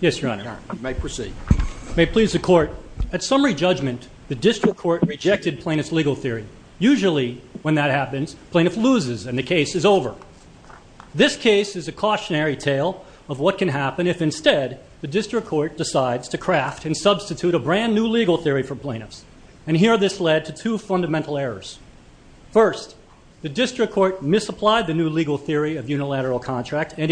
Yes, Your Honor. You may proceed. May it please the court. At summary judgment, the district court rejected plaintiff's legal theory. Usually, when that happens, plaintiff loses and the case is over. This case is a cautionary tale of what can happen if instead the district court decides to craft and substitute a brand new legal theory for plaintiffs. And here this led to two fundamental errors. First, the district court misapplied the new legal theory of unilateral contract and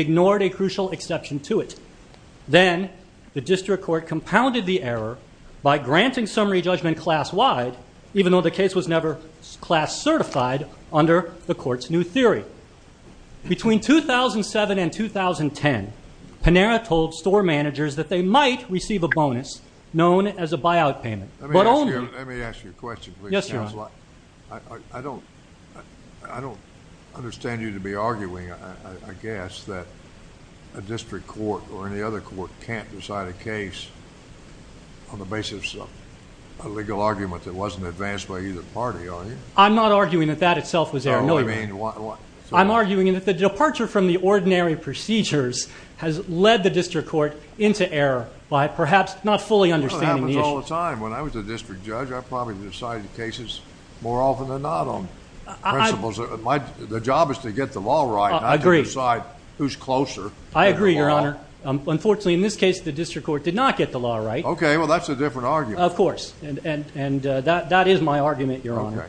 then the district court compounded the error by granting summary judgment class-wide, even though the case was never class-certified under the court's new theory. Between 2007 and 2010, Panera told store managers that they might receive a bonus known as a buyout payment. Let me ask you a question. Yes, Your Honor. I don't understand you to be arguing, I guess, that a district court or any other court can't decide a case on the basis of a legal argument that wasn't advanced by either party, are you? I'm not arguing that that itself was error. I'm arguing that the departure from the ordinary procedures has led the district court into error by perhaps not fully understanding the issue. That happens all the time. When I was a district judge, I probably decided cases more often than not on principles. The job is to get the law right, not to decide who's closer. I agree, Your Honor. Unfortunately, in this case, the district court did not get the law right. Okay, well that's a different argument. Of course, and that is my argument, Your Honor.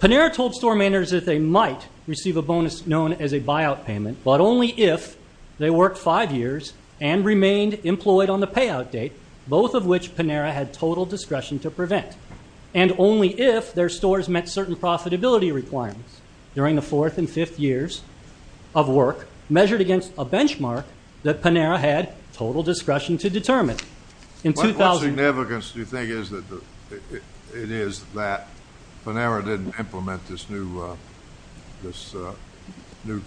Panera told store managers that they might receive a bonus known as a buyout payment, but only if they worked five years and remained employed on the payout date, both of which Panera had total discretion to prevent, and only if their stores met certain profitability requirements during the fourth and fifth years of work measured against a benchmark that Panera had total discretion to determine. What significance do you think it is that Panera didn't implement this new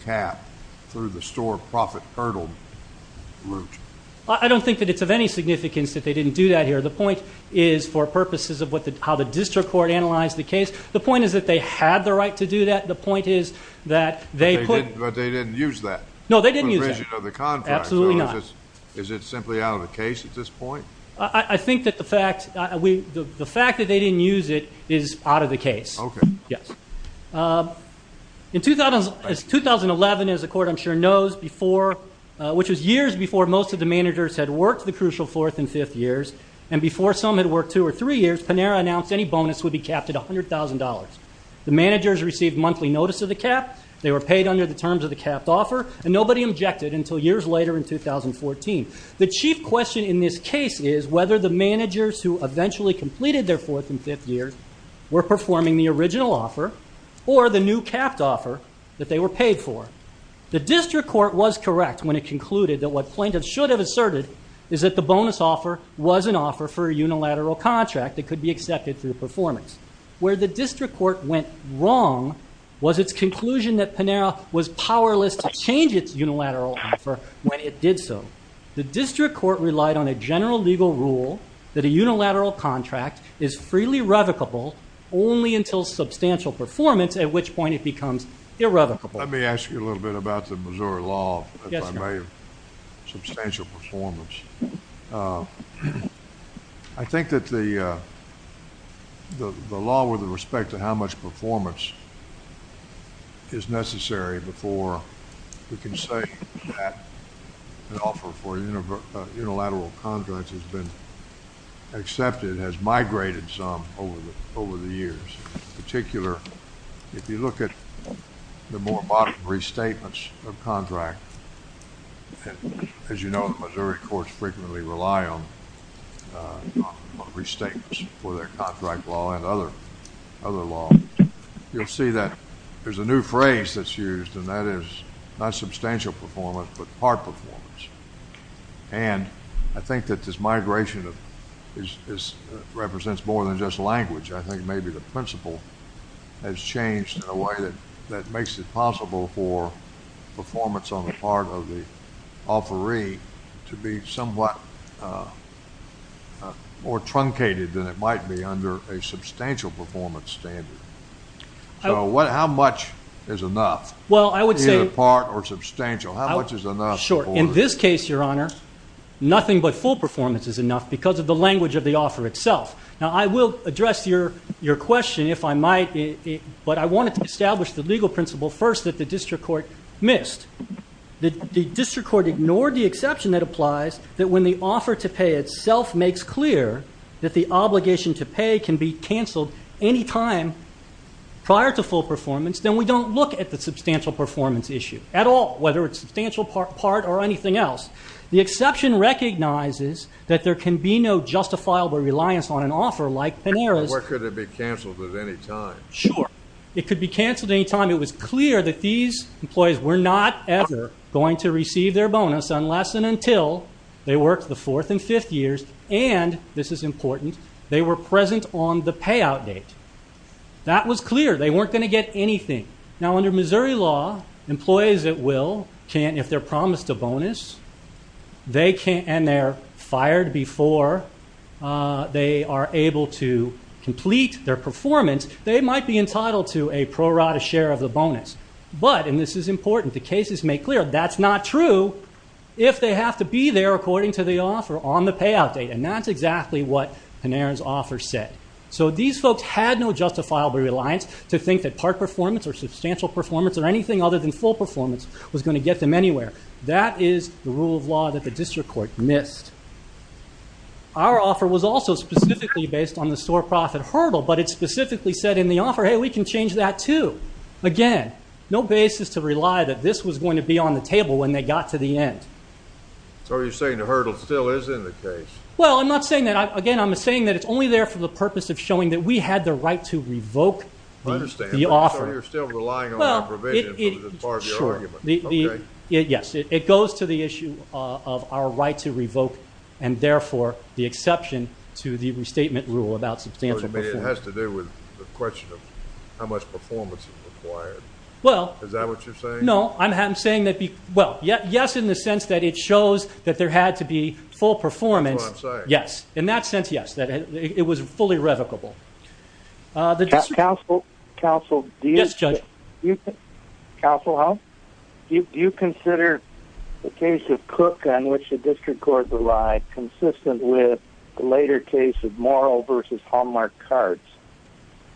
cap through the store profit hurdle route? I don't think that it's of any significance that they didn't do that here. The point is, for purposes of how the district court analyzed the case, the point is that they had the right to do that. The point is that they couldn't. But they didn't use that? No, they didn't use that. Absolutely not. Is it simply out of the case at this point? I think that the fact that they didn't use it is out of the case. Okay. Yes. In 2011, as the court I'm sure knows before, which was years before most of the managers had worked the crucial fourth and fifth years, and before some had worked two or three years, Panera announced any bonus would be capped at $100,000. The managers received monthly notice of the cap, they were paid under the terms of the capped offer, and nobody objected until years later in 2014. The chief question in this case is whether the managers who eventually completed their fourth and fifth years were performing the original offer or the new capped offer that they were paid for. The district court was correct when it concluded that what plaintiffs should have asserted is that the bonus offer was an offer for a unilateral contract that could be accepted for the performance. Where the district court went wrong was its conclusion that Panera was powerless to change its unilateral offer when it did so. The district court relied on a general legal rule that a unilateral contract is freely revocable only until substantial performance, at which point it becomes irrevocable. Let me ask you a little bit about the Missouri law, if I may, substantial performance. I think that the law with respect to how much performance is necessary before we can say that an offer for unilateral contracts has been accepted, has migrated some over the years. In particular, if you look at the statements of contract, as you know, the Missouri courts frequently rely on restatements for their contract law and other law. You'll see that there's a new phrase that's used, and that is not substantial performance but part performance. I think that this migration represents more than just language. I think maybe the principle has changed in a way that makes it possible for performance on the part of the offeree to be somewhat more truncated than it might be under a substantial performance standard. So what how much is enough? Well, I would say part or substantial. How much is enough? Sure. In this case, your honor, nothing but full performance is enough because of the language of the offer itself. Now, I will address your your question if I might, but I wanted to establish the legal principle first that the district court missed. The district court ignored the exception that applies that when the offer to pay itself makes clear that the obligation to pay can be canceled any time prior to full performance, then we don't look at the substantial performance issue at all, whether it's substantial part or anything else. The exception recognizes that there can be no justifiable reliance on an offer like Sure. It could be canceled any time. It was clear that these employees were not ever going to receive their bonus unless and until they worked the fourth and fifth years, and this is important, they were present on the payout date. That was clear. They weren't going to get anything. Now, under Missouri law, employees at will can't, if they're promised a bonus, they can't, and they're fired before they are able to complete their performance. They might be entitled to a pro rata share of the bonus, but, and this is important, the cases make clear that's not true if they have to be there according to the offer on the payout date, and that's exactly what Panarin's offer said. So these folks had no justifiable reliance to think that part performance or substantial performance or anything other than full performance was going to get them anywhere. That is the rule of law that the district court missed. Our offer was also specifically based on the store profit hurdle, but it specifically said in the offer, hey, we can change that too. Again, no basis to rely that this was going to be on the table when they got to the end. So are you saying the hurdle still is in the case? Well, I'm not saying that. Again, I'm saying that it's only there for the purpose of showing that we had the right to revoke the offer. So you're still relying on the provision as part of your argument. Yes, it goes to the issue of our right to revoke, and therefore, the exception to the restatement rule about substantial performance. But it has to do with the question of how much performance is required. Well... Is that what you're saying? No, I'm saying that, well, yes, in the sense that it shows that there had to be full performance. That's what I'm saying. Yes, in that sense, yes, that it was fully revocable. The district... Counsel, counsel, do you... Yes, Judge. Counsel, how? Do you consider the case of Cook on which the district court relied consistent with the later case of Morrill versus Hallmark Cards?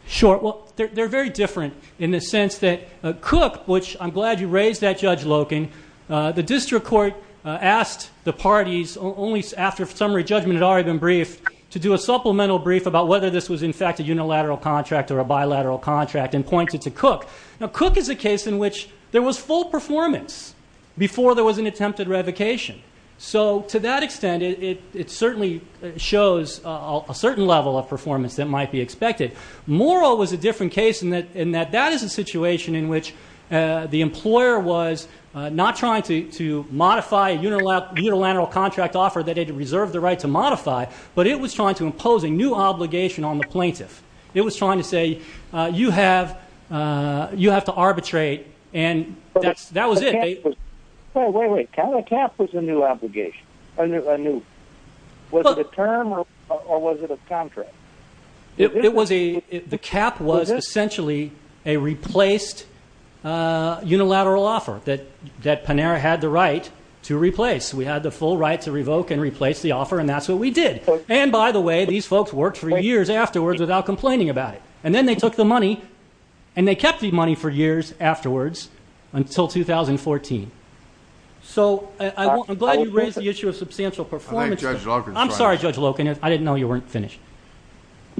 Sure. Well, they're very different in the sense that Cook, which I'm glad you raised that, Judge Loken, the district court asked the parties only after summary judgment had already been briefed to do a supplemental brief about whether this was in fact a unilateral contract or a bilateral contract and pointed to Cook. Now, Cook is a case in which there was full performance before there was an attempted revocation. So to that extent, it certainly shows a certain level of performance that might be expected. Morrill was a different case in that that is a situation in which the employer was not trying to modify a unilateral contract offer that it had reserved the right to modify, but it was trying to impose a new obligation on the plaintiff. It was trying to say, you have to arbitrate, and that was it. Wait, wait, wait. A cap was a new obligation, a new... Was it a term or was it a contract? The cap was essentially a replaced unilateral offer that Panera had the right to replace. We had the full right to revoke and replace the offer, and that's what we did. And by the way, these folks worked for years afterwards without complaining about it, and then they took the money and they kept the money for years afterwards until 2014. So I'm glad you raised the issue of substantial performance. I'm sorry, Judge Loken, I didn't know you weren't finished.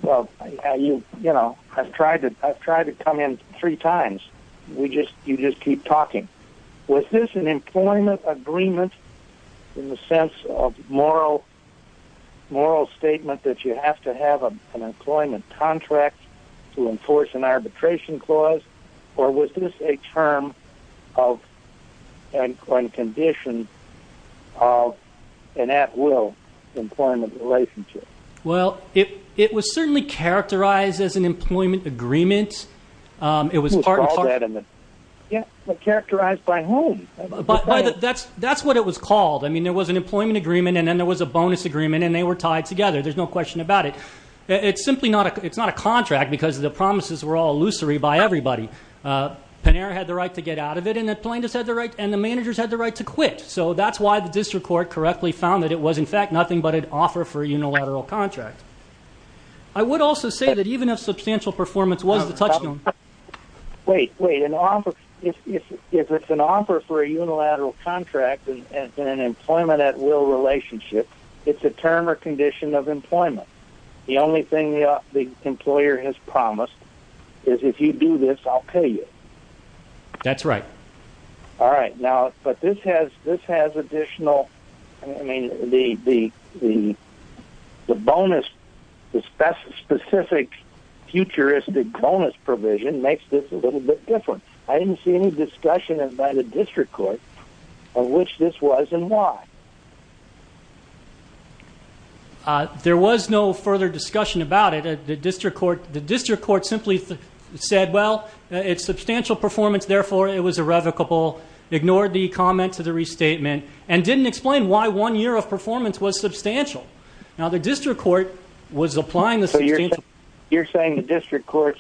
Well, you know, I've tried to come in three times. We just, you just keep talking. Was this an employment agreement in the sense of moral statement that you have to have an employment contract to enforce an arbitration clause, or was this a term or a condition of an at-will employment relationship? Well, it was certainly characterized as an employment agreement. It was part and parcel... Yeah, but characterized by whom? That's what it was called. I mean, there was an employment agreement and then there was a bonus agreement and they were tied together. There's no question about it. It's simply not a, it's not a contract because the promises were all illusory by everybody. Panera had the right to get out of it and the plaintiffs had the right, and the managers had the right to quit. So that's why the district court correctly found that it was in fact nothing but an offer for a unilateral contract. I would also say that even if substantial performance was the touchstone... Wait, wait, an offer, if it's an offer for a unilateral contract and an employment at-will relationship, it's a term or condition of employment. The only thing the employer has promised is if you do this, I'll kill you. That's right. All right. Now, but this has, this has additional, I mean, the bonus, the specific futuristic bonus provision makes this a little bit different. I didn't see any discussion by the district court of which this was and why. Uh, there was no further discussion about it. Uh, the district court, the district court simply said, well, it's substantial performance, therefore it was irrevocable, ignored the comment to the restatement and didn't explain why one year of performance was substantial. Now the district court was applying the... You're saying the district court's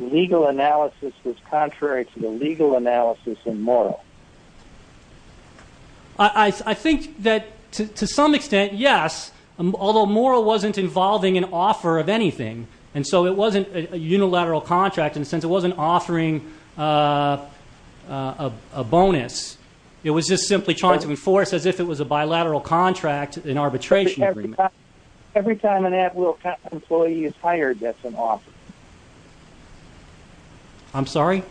legal analysis was contrary to the legal analysis and moral. I think that to some extent, yes, although moral wasn't involving an offer of anything. And so it wasn't a unilateral contract. And since it wasn't offering, uh, uh, a bonus, it was just simply trying to enforce as if it was a bilateral contract, an arbitration. Every time an at-will employee is hired, that's an offer. I'm sorry.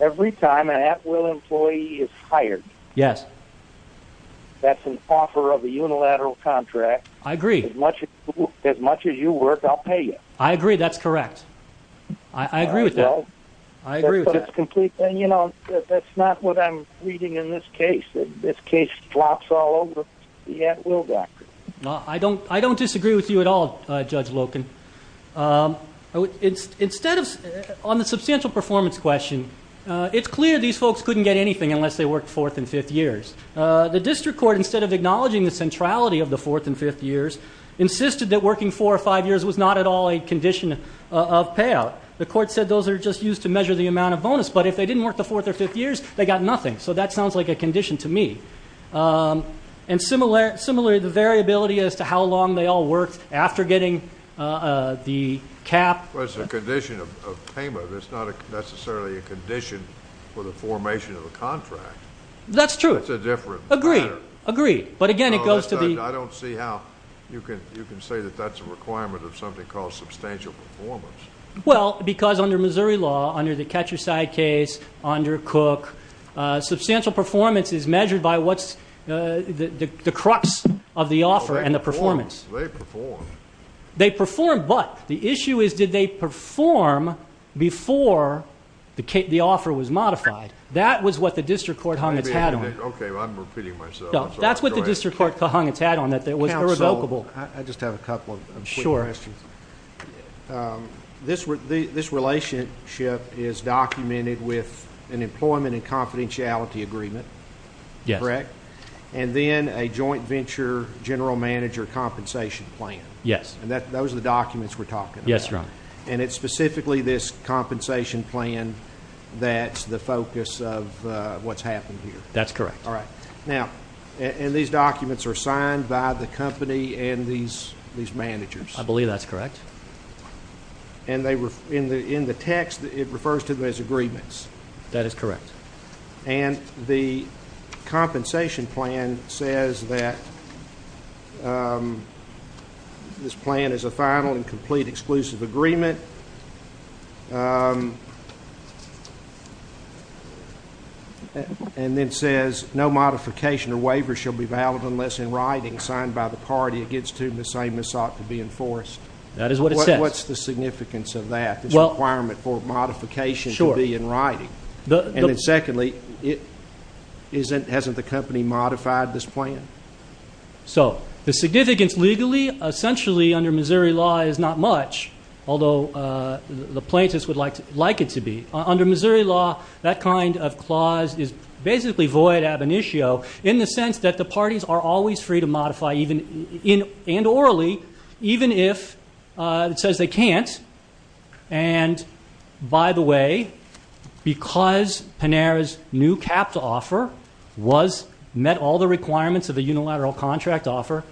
Every time an at-will employee is hired. Yes. That's an offer of a unilateral contract. I agree as much as much as you work. I'll pay you. I agree. That's correct. I agree with that. I agree with that. And you know, that's not what I'm reading in this case. This case flops all over the at-will doctor. No, I don't, I don't disagree with you at all, Judge Loken. Um, instead of on the substantial performance question, uh, it's clear these folks couldn't get anything unless they worked fourth and fifth years. Uh, the district court, instead of acknowledging the centrality of the fourth and fifth years, insisted that working four or five years was not at all a condition of payout. The court said those are just used to measure the amount of bonus, but if they didn't work the fourth or fifth years, they got nothing. So that sounds like a condition to me. Um, and similar, similarly, the variability as to how long they all worked after getting, uh, uh, the cap. Well, it's a condition of payment. It's not necessarily a condition for the formation of a contract. That's true. It's a different, agree, agree. But again, it goes to the, I don't see how you can, you can say that that's a requirement of something called substantial performance. Well, because under Missouri law, under the catcher side case, under Cook, uh, substantial performance is measured by what's, uh, the, the, the crux of the offer and the performance. They perform, but the issue is, did they perform before the case, the offer was modified. That was what the district court hung its hat on. Okay. Well, I'm repeating myself. That's what the district court hung its hat on that. That was irrevocable. I just have a couple of questions. Um, this, this relationship is documented with an employment and confidentiality agreement. Correct. And then a joint venture general manager compensation plan. Yes. And that, those are the documents we're talking about. Yes, sir. And it's specifically this compensation plan. That's the focus of, uh, what's happened here. That's correct. All right. Now, and these documents are signed by the company and these, these managers. I believe that's correct. And they were in the, in the text, it refers to those agreements. That is correct. And the compensation plan says that, um, this plan is a final and complete exclusive agreement. Um, and then says no modification or waiver shall be valid unless in writing signed by the party against whom the same is sought to be enforced. That is what it says. What's the significance of that requirement for modification to be in writing. The, and then secondly, it isn't, hasn't the company modified this plan? So the significance legally, essentially under Missouri law is not much. Although, uh, the plaintiffs would like to like it to be under Missouri law. That kind of clause is basically void ab initio in the sense that the uh, it says they can't. And by the way, because Panera's new cap to offer was met all the requirements of the unilateral contract offer,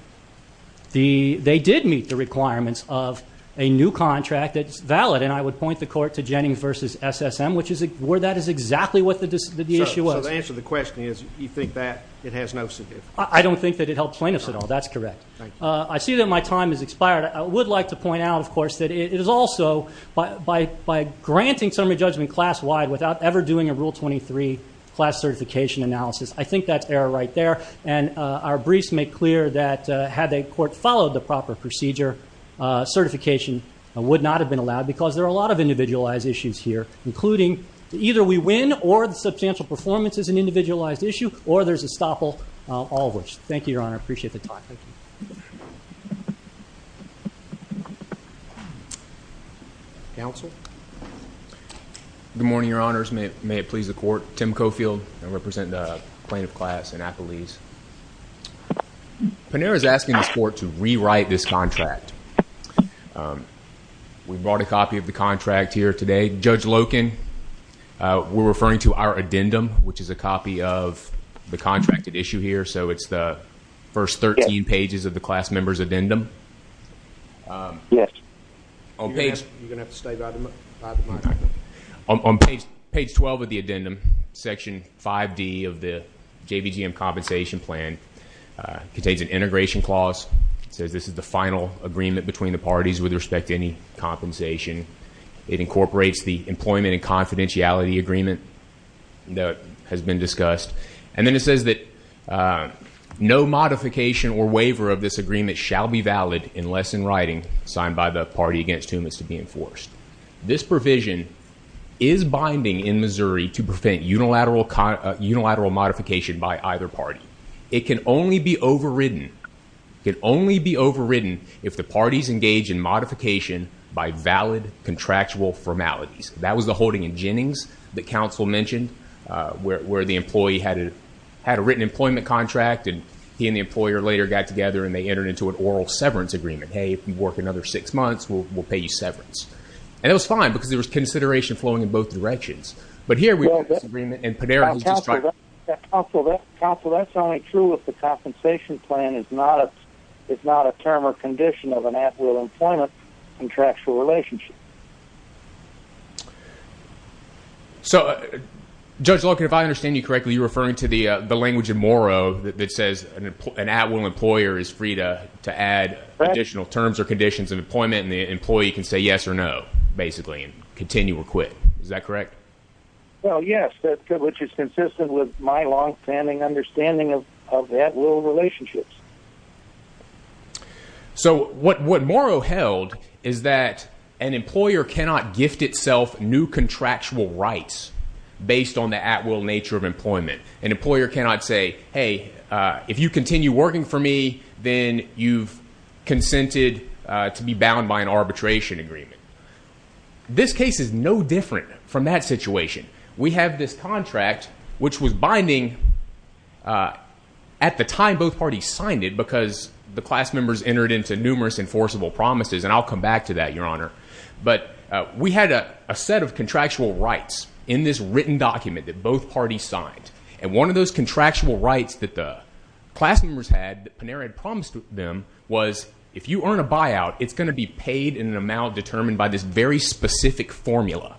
the, they did meet the requirements of a new contract that's valid. And I would point the court to Jennings versus SSM, which is where that is exactly what the, the issue was. So the answer to the question is you think that it has no significance? I don't think that it helped plaintiffs at all. That's correct. Uh, I see that my time has expired. I would like to point out of course, that it is also by, by, by granting summary judgment class wide without ever doing a rule 23 class certification analysis, I think that's error right there. And, uh, our briefs make clear that, uh, had they court followed the proper procedure, uh, certification would not have been allowed because there are a lot of individualized issues here, including either we win or the substantial performance is an individualized issue or there's a stopple, uh, all of which. Thank you, Your Honor. Appreciate the time. Okay. Counsel. Good morning, Your Honors. May it, may it please the court. Tim Cofield, I represent the plaintiff class in Appalese. Panera is asking this court to rewrite this contract. Um, we brought a copy of the contract here today. Judge Loken, uh, we're referring to our addendum, which is a copy of the contracted issue here. So it's the first 13 pages of the class member's addendum. Um, on page 12 of the addendum, section five D of the JBGM compensation plan, uh, contains an integration clause. It says, this is the final agreement between the parties with respect to any compensation. It incorporates the employment and confidentiality agreement that has been discussed. And then it says that, uh, no modification or waiver of this signed by the party against whom it's to be enforced. This provision is binding in Missouri to prevent unilateral con unilateral modification by either party. It can only be overridden. It can only be overridden if the parties engage in modification by valid contractual formalities. That was the holding in Jennings that counsel mentioned, uh, where, where the employee had a, had a written employment contract and he and the employer later got together and they entered into an oral severance agreement. Hey, if you work another six months, we'll, we'll pay you severance. And it was fine because there was consideration flowing in both directions. But here we have this agreement and Panera is just trying to- Counsel, that's only true if the compensation plan is not a, it's not a term or condition of an at-will employment contractual relationship. So Judge Logan, if I understand you correctly, you're referring to the, uh, the language in Moro that says an at-will employer is free to, to add additional terms or conditions of employment and the employee can say yes or no, basically, and continue or quit, is that correct? Well, yes, that's good, which is consistent with my longstanding understanding of, of at-will relationships. So what, what Moro held is that an employer cannot gift itself new contractual rights based on the at-will nature of employment. An employer cannot say, hey, uh, if you continue working for me, then you've consented, uh, to be bound by an arbitration agreement. This case is no different from that situation. We have this contract, which was binding, uh, at the time both parties signed it because the class members entered into numerous enforceable promises, and I'll come back to that, Your Honor, but, uh, we had a set of contractual rights in this written document that both parties signed. And one of those contractual rights that the class members had, that Panera had promised them, was if you earn a buyout, it's going to be paid in an amount determined by this very specific formula.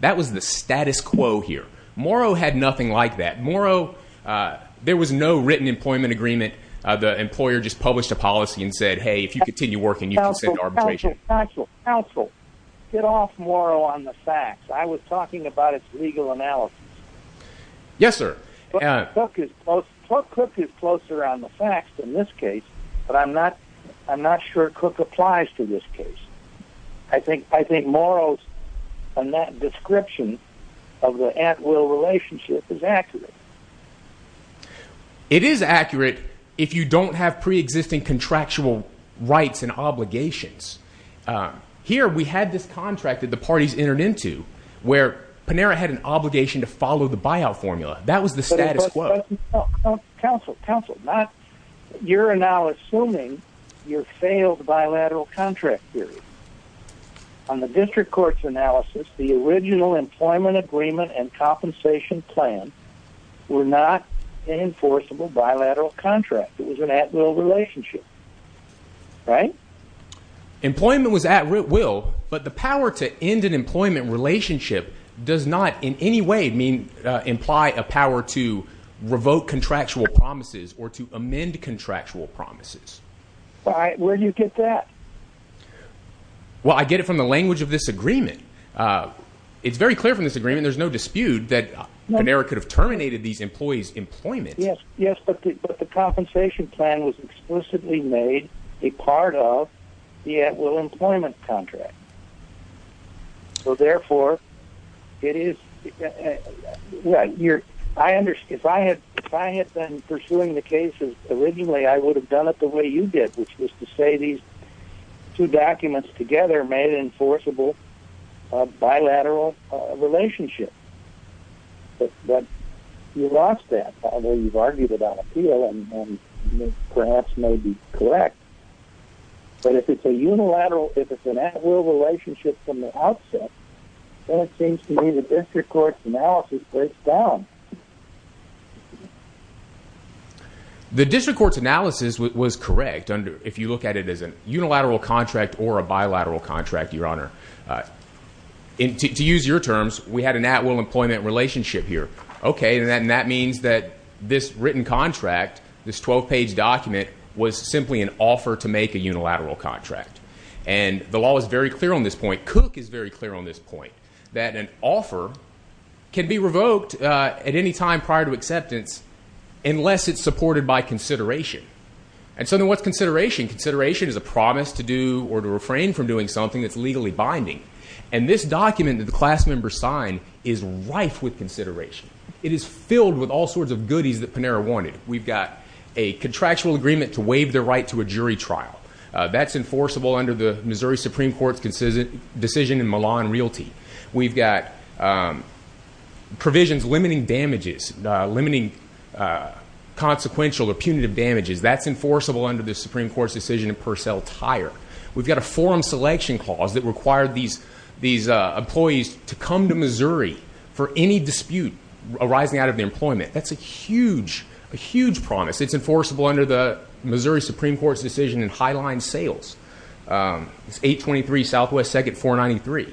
That was the status quo here. Moro had nothing like that. Moro, uh, there was no written employment agreement. Uh, the employer just published a policy and said, hey, if you continue working, you can send arbitration. Counsel, get off Moro on the facts. I was talking about its legal analysis. Yes, sir. Cook is close. Cook is closer on the facts in this case, but I'm not, I'm not sure Cook applies to this case. I think, I think Moro's, and that description of the ant-will relationship is accurate. It is accurate if you don't have preexisting contractual rights and obligations. Uh, here we had this contract that the parties entered into where Panera had an obligation to follow the buyout formula. That was the status quo. Counsel, counsel, not, you're now assuming you're failed bilateral contract theory. On the district court's analysis, the original employment agreement and compensation plan were not enforceable bilateral contract. It was an at-will relationship, right? Employment was at will, but the power to end an employment relationship does not in any way mean, uh, imply a power to revoke contractual promises or to amend contractual promises. All right. Where'd you get that? Well, I get it from the language of this agreement. Uh, it's very clear from this agreement. There's no dispute that Panera could have terminated these employees' employment. Yes. Yes. But the, but the compensation plan was explicitly made a part of the at-will employment contract. So therefore it is, uh, you're, I understand if I had, if I had been pursuing the cases originally, I would have done it the way you did, which was to say these two documents together made an enforceable, uh, bilateral relationship, but you lost that. Although you've argued it on appeal and perhaps may be correct, but if it's a relationship from the outset, then it seems to me the district court's analysis breaks down. The district court's analysis was correct under, if you look at it as a unilateral contract or a bilateral contract, your honor, uh, to use your terms, we had an at-will employment relationship here. Okay. And then that means that this written contract, this 12 page document was simply an offer to make a unilateral contract. And the law is very clear on this point. Cook is very clear on this point that an offer can be revoked, uh, at any time prior to acceptance, unless it's supported by consideration. And so then what's consideration? Consideration is a promise to do or to refrain from doing something that's legally binding. And this document that the class members sign is rife with consideration. It is filled with all sorts of goodies that Panera wanted. We've got a contractual agreement to waive the right to a jury trial. Uh, that's enforceable under the Missouri Supreme Court's consistent decision in Milan Realty. We've got, um, provisions limiting damages, uh, limiting, uh, consequential or punitive damages. That's enforceable under the Supreme Court's decision in Purcell Tire. We've got a forum selection clause that required these, these, uh, employees to come to Missouri for any dispute arising out of the employment. That's a huge, a huge promise. It's enforceable under the Missouri Supreme Court's decision in Highline Sales. Um, it's 823 Southwest 2nd 493.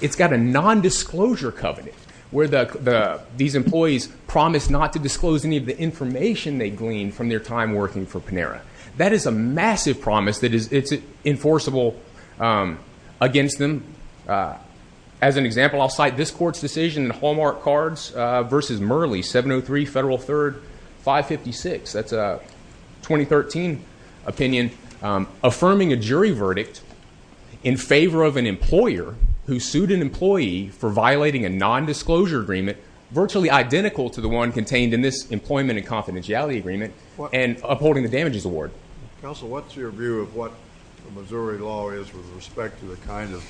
It's got a non-disclosure covenant where the, the, these employees promise not to disclose any of the information they gleaned from their time working for Panera. That is a massive promise that is, it's enforceable, um, against them. Uh, as an example, I'll cite this court's decision in Hallmark Cards, uh, versus Murley 703 Federal 3rd 556. That's a 2013 opinion, um, affirming a jury verdict in favor of an employer who sued an employee for violating a non-disclosure agreement, virtually identical to the one contained in this employment and confidentiality agreement and upholding the damages award. Counsel, what's your view of what the Missouri law is with respect to the kind of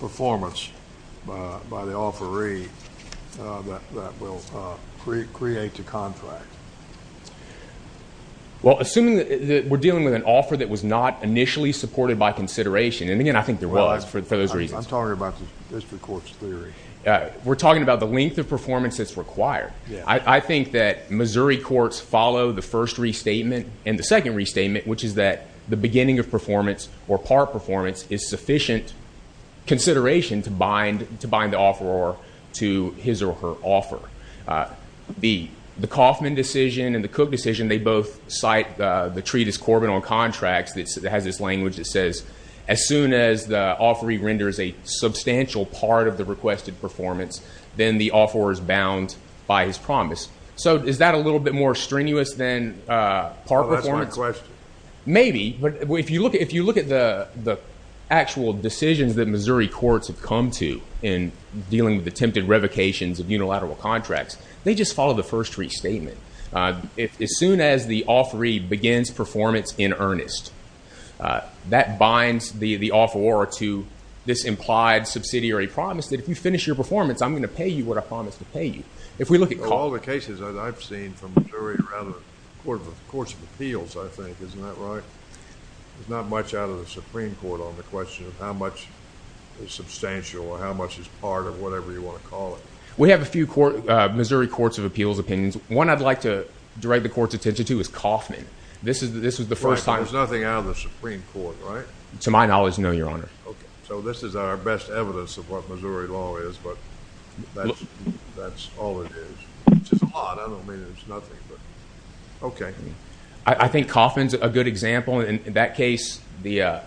performance, uh, by the offeree, uh, that, that will, uh, create the contract? Well, assuming that we're dealing with an offer that was not initially supported by consideration. And again, I think there was for those reasons. I'm talking about the district court's theory. Uh, we're talking about the length of performance that's required. I think that Missouri courts follow the first restatement and the second restatement, which is that the beginning of performance or part performance is sufficient consideration to bind, to bind the offeror to his or her offer. Uh, the, the Kaufman decision and the Cook decision, they both cite, uh, the treatise Corbin on contracts that has this language that says, as soon as the offeree renders a substantial part of the requested performance, then the offeror is bound by his promise. So is that a little bit more strenuous than, uh, part performance? Maybe, but if you look at, if you look at the, the actual decisions that Missouri courts have come to in dealing with attempted revocations of unilateral contracts, they just follow the first restatement. Uh, if, as soon as the offeree begins performance in earnest, uh, that binds the, the offeror to this implied subsidiary promise that if you finish your performance, I'm going to pay you what I promised to pay you. If we look at all the cases that I've seen from Missouri rather, court of the courts of appeals, I think, isn't that right? There's not much out of the Supreme court on the question of how much is substantial or how much is part of whatever you want to call it. We have a few court, uh, Missouri courts of appeals opinions. One I'd like to direct the court's attention to is Kaufman. This is, this was the first time. There's nothing out of the Supreme court, right? To my knowledge. No, your honor. Okay. So this is our best evidence of what Missouri law is, but that's, that's all it is, which is a lot. I don't mean there's nothing, but okay. I think Kaufman's a good example. And in that case, the, uh,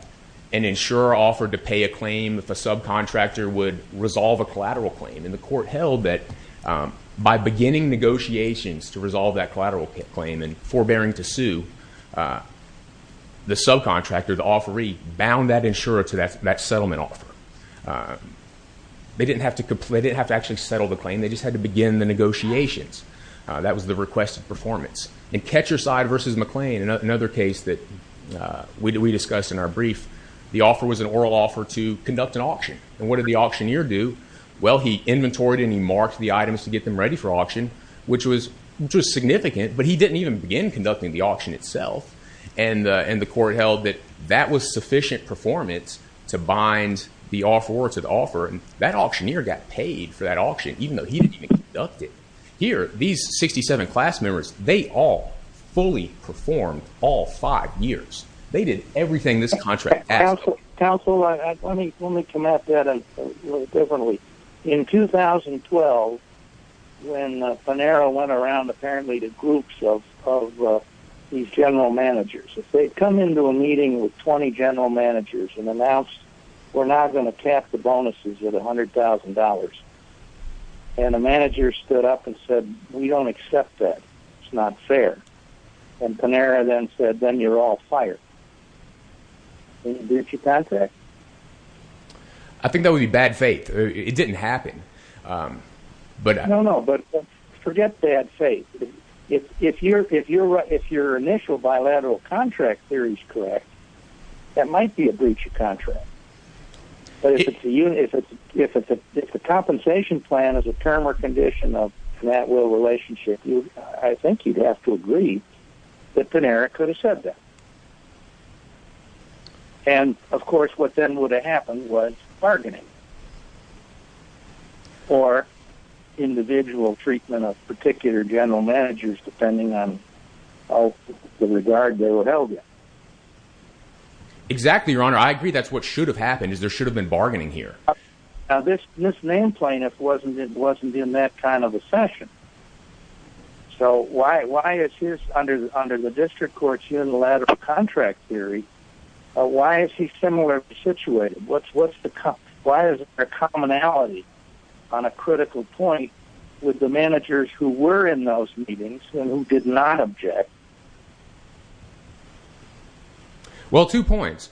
an insurer offered to pay a claim if a subcontractor would resolve a collateral claim and the court held that, um, by beginning negotiations to resolve that collateral claim and forbearing to sue, uh, the subcontractor, the offeree bound that insurer to that, that settlement offer, uh, they didn't have to complete it, have to actually settle the claim. They just had to begin the negotiations. Uh, that was the request of performance and catch your side versus McLean. And another case that, uh, we, we discussed in our brief, the offer was an oral offer to conduct an auction. And what did the auctioneer do? Well, he inventoried and he marked the items to get them ready for auction, which was, which was significant, but he didn't even begin conducting the auction itself and, uh, and the court held that that was sufficient performance to bind the offeror to the offer. That auctioneer got paid for that auction, even though he didn't even conduct it here, these 67 class members, they all fully performed all five years. They did everything. This contract council, let me, let me come at that a little differently. In 2012, when, uh, an arrow went around, apparently the groups of, of, uh, these general managers, if they'd come into a meeting with 20 general managers and announced, we're not going to cap the bonuses with a hundred thousand dollars. And the manager stood up and said, we don't accept that. It's not fair. And Panera then said, then you're all fired. And you get your contract. I think that would be bad faith. It didn't happen. Um, but no, no, but forget bad faith. If, if you're, if you're right, if your initial bilateral contract theory is correct, that might be a breach of contract. But if it's a unit, if it's, if it's a, if the compensation plan is a term or condition of that will relationship, you, I think you'd have to agree that Panera could have said that. And of course, what then would have happened was bargaining or individual treatment of particular general managers, depending on the regard they were held. Exactly. Your honor. I agree. That's what should have happened is there should have been bargaining here. Uh, this, this name plaintiff wasn't, it wasn't in that kind of a session. So why, why is his under the, under the district court's unilateral contract theory, uh, why is he similar situated? What's, what's the cop? Why is it a commonality on a critical point with the managers who were in those meetings and who did not object? Well, two points,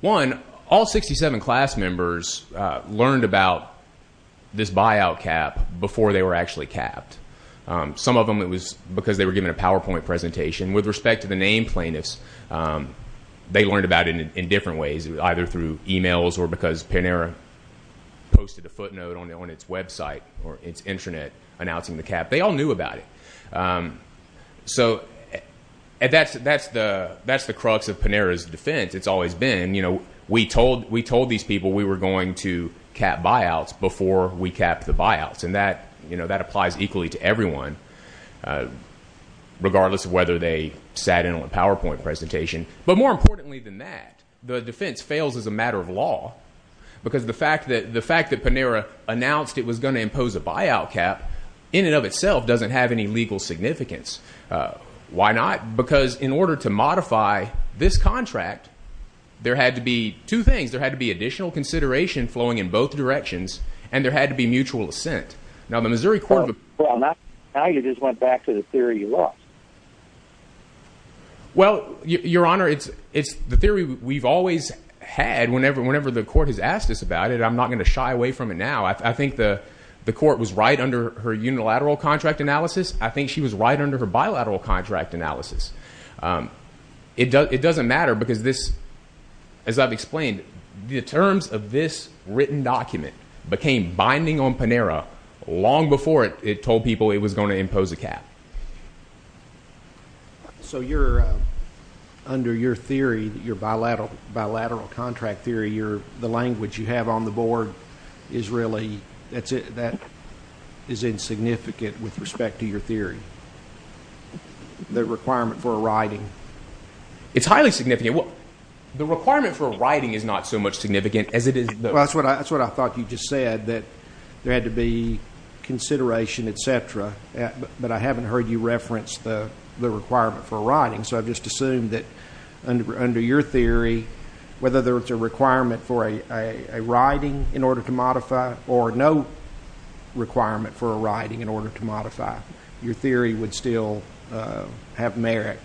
one, all 67 class members, uh, learned about this buyout cap before they were actually capped. Um, some of them, it was because they were given a PowerPoint presentation with respect to the name plaintiffs. Um, they learned about it in different ways, either through emails or because Panera posted a footnote on, on its website or its intranet announcing the cap. They all knew about it. Um, so that's, that's the, that's the crux of Panera's defense. It's always been, you know, we told, we told these people we were going to cap buyouts before we capped the buyouts. And that, you know, that applies equally to everyone, uh, regardless of whether they sat in on a PowerPoint presentation, but more importantly than that, the defense fails as a matter of law because the fact that the fact that Panera announced it was going to impose a buyout cap in and of itself, doesn't have any legal significance. Uh, why not? Because in order to modify this contract, there had to be two things. There had to be additional consideration flowing in both directions and there had to be mutual assent. Now the Missouri court. Now you just went back to the theory you lost. Well, your honor, it's, it's the theory we've always had whenever, whenever the court has asked us about it, I'm not going to shy away from it now. I think the, the court was right under her unilateral contract analysis. I think she was right under her bilateral contract analysis. Um, it does, it doesn't matter because this, as I've explained, the terms of this written document became binding on Panera long before it told people it was going to impose a cap. So you're, uh, under your theory, your bilateral bilateral contract theory, the language you have on the board is really, that's it. That is insignificant with respect to your theory, the requirement for a writing. It's highly significant. What the requirement for writing is not so much significant as it is. Well, that's what I, that's what I thought you just said that there had to be consideration, et cetera. But I haven't heard you reference the requirement for writing. So I've just assumed that under, under your theory, whether there was a requirement for a, a writing in order to modify or no requirement for a writing in order to modify your theory would still, uh, have merit.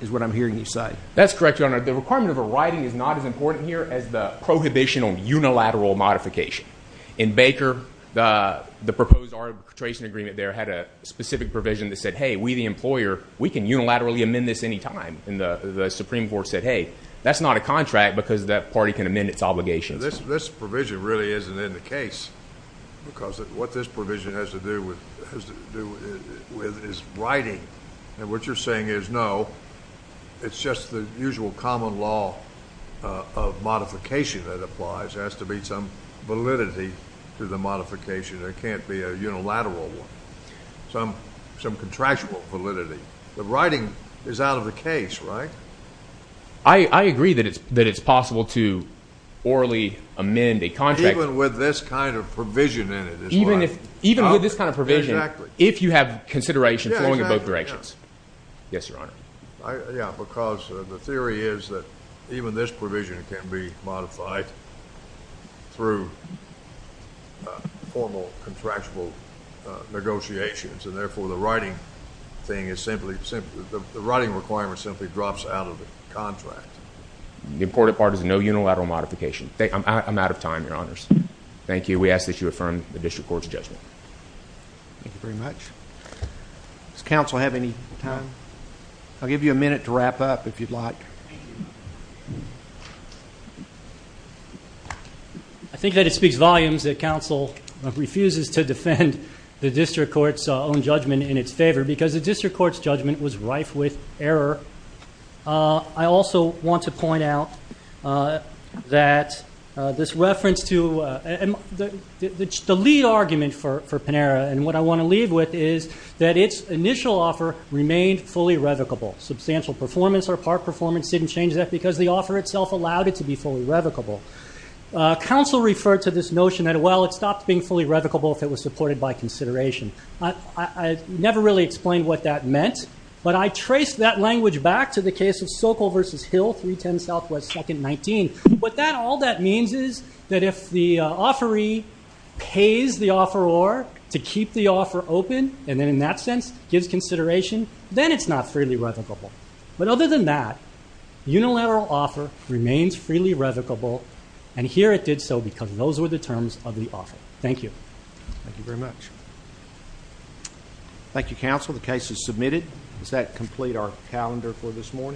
Is what I'm hearing you say. That's correct. Your honor, the requirement of a writing is not as important here as the prohibition on unilateral modification in Baker, the, the proposed arbitration agreement there had a specific provision that said, Hey, we, the employer, we can unilaterally amend this anytime in the Supreme court said, Hey, that's not a contract because that party can amend its obligations, this provision really isn't in the case because of what this provision has to do with, has to do with his writing. And what you're saying is no, it's just the usual common law of modification that applies has to be some validity to the modification. There can't be a unilateral one, some, some contractual validity. The writing is out of the case, right? I agree that it's, that it's possible to orally amend a contract with this kind of provision in it, even if, even with this kind of provision, if you have consideration flowing in both directions, yes, your honor. I, yeah. Because the theory is that even this provision can be modified through formal contractual negotiations. And therefore the writing thing is simply, the writing requirement simply drops out of the contract. The important part is no unilateral modification. I'm out of time. Your honors. Thank you. We ask that you affirm the district court's judgment. Thank you very much. Does council have any time? I'll give you a minute to wrap up if you'd like. I think that it speaks volumes that council refuses to defend the district court's own judgment in its favor because the district court's judgment was rife with error. I also want to point out that this reference to the, the, the, the lead argument for, for Panera and what I want to leave with is that its initial offer remained fully revocable. Substantial performance or part performance didn't change that because the offer itself allowed it to be fully revocable. Council referred to this notion that, well, it stopped being fully revocable if it was supported by consideration. I, I never really explained what that meant, but I traced that language back to the case of Sokol versus Hill 310 Southwest second 19, but that all that means is that if the offeree pays the offer or to keep the offer open, and then in that sense gives consideration, then it's not freely revocable. But other than that, unilateral offer remains freely revocable. And here it did so because those were the terms of the offer. Thank you. Thank you very much. Thank you, counsel. The case is submitted. Does that complete our calendar for this morning?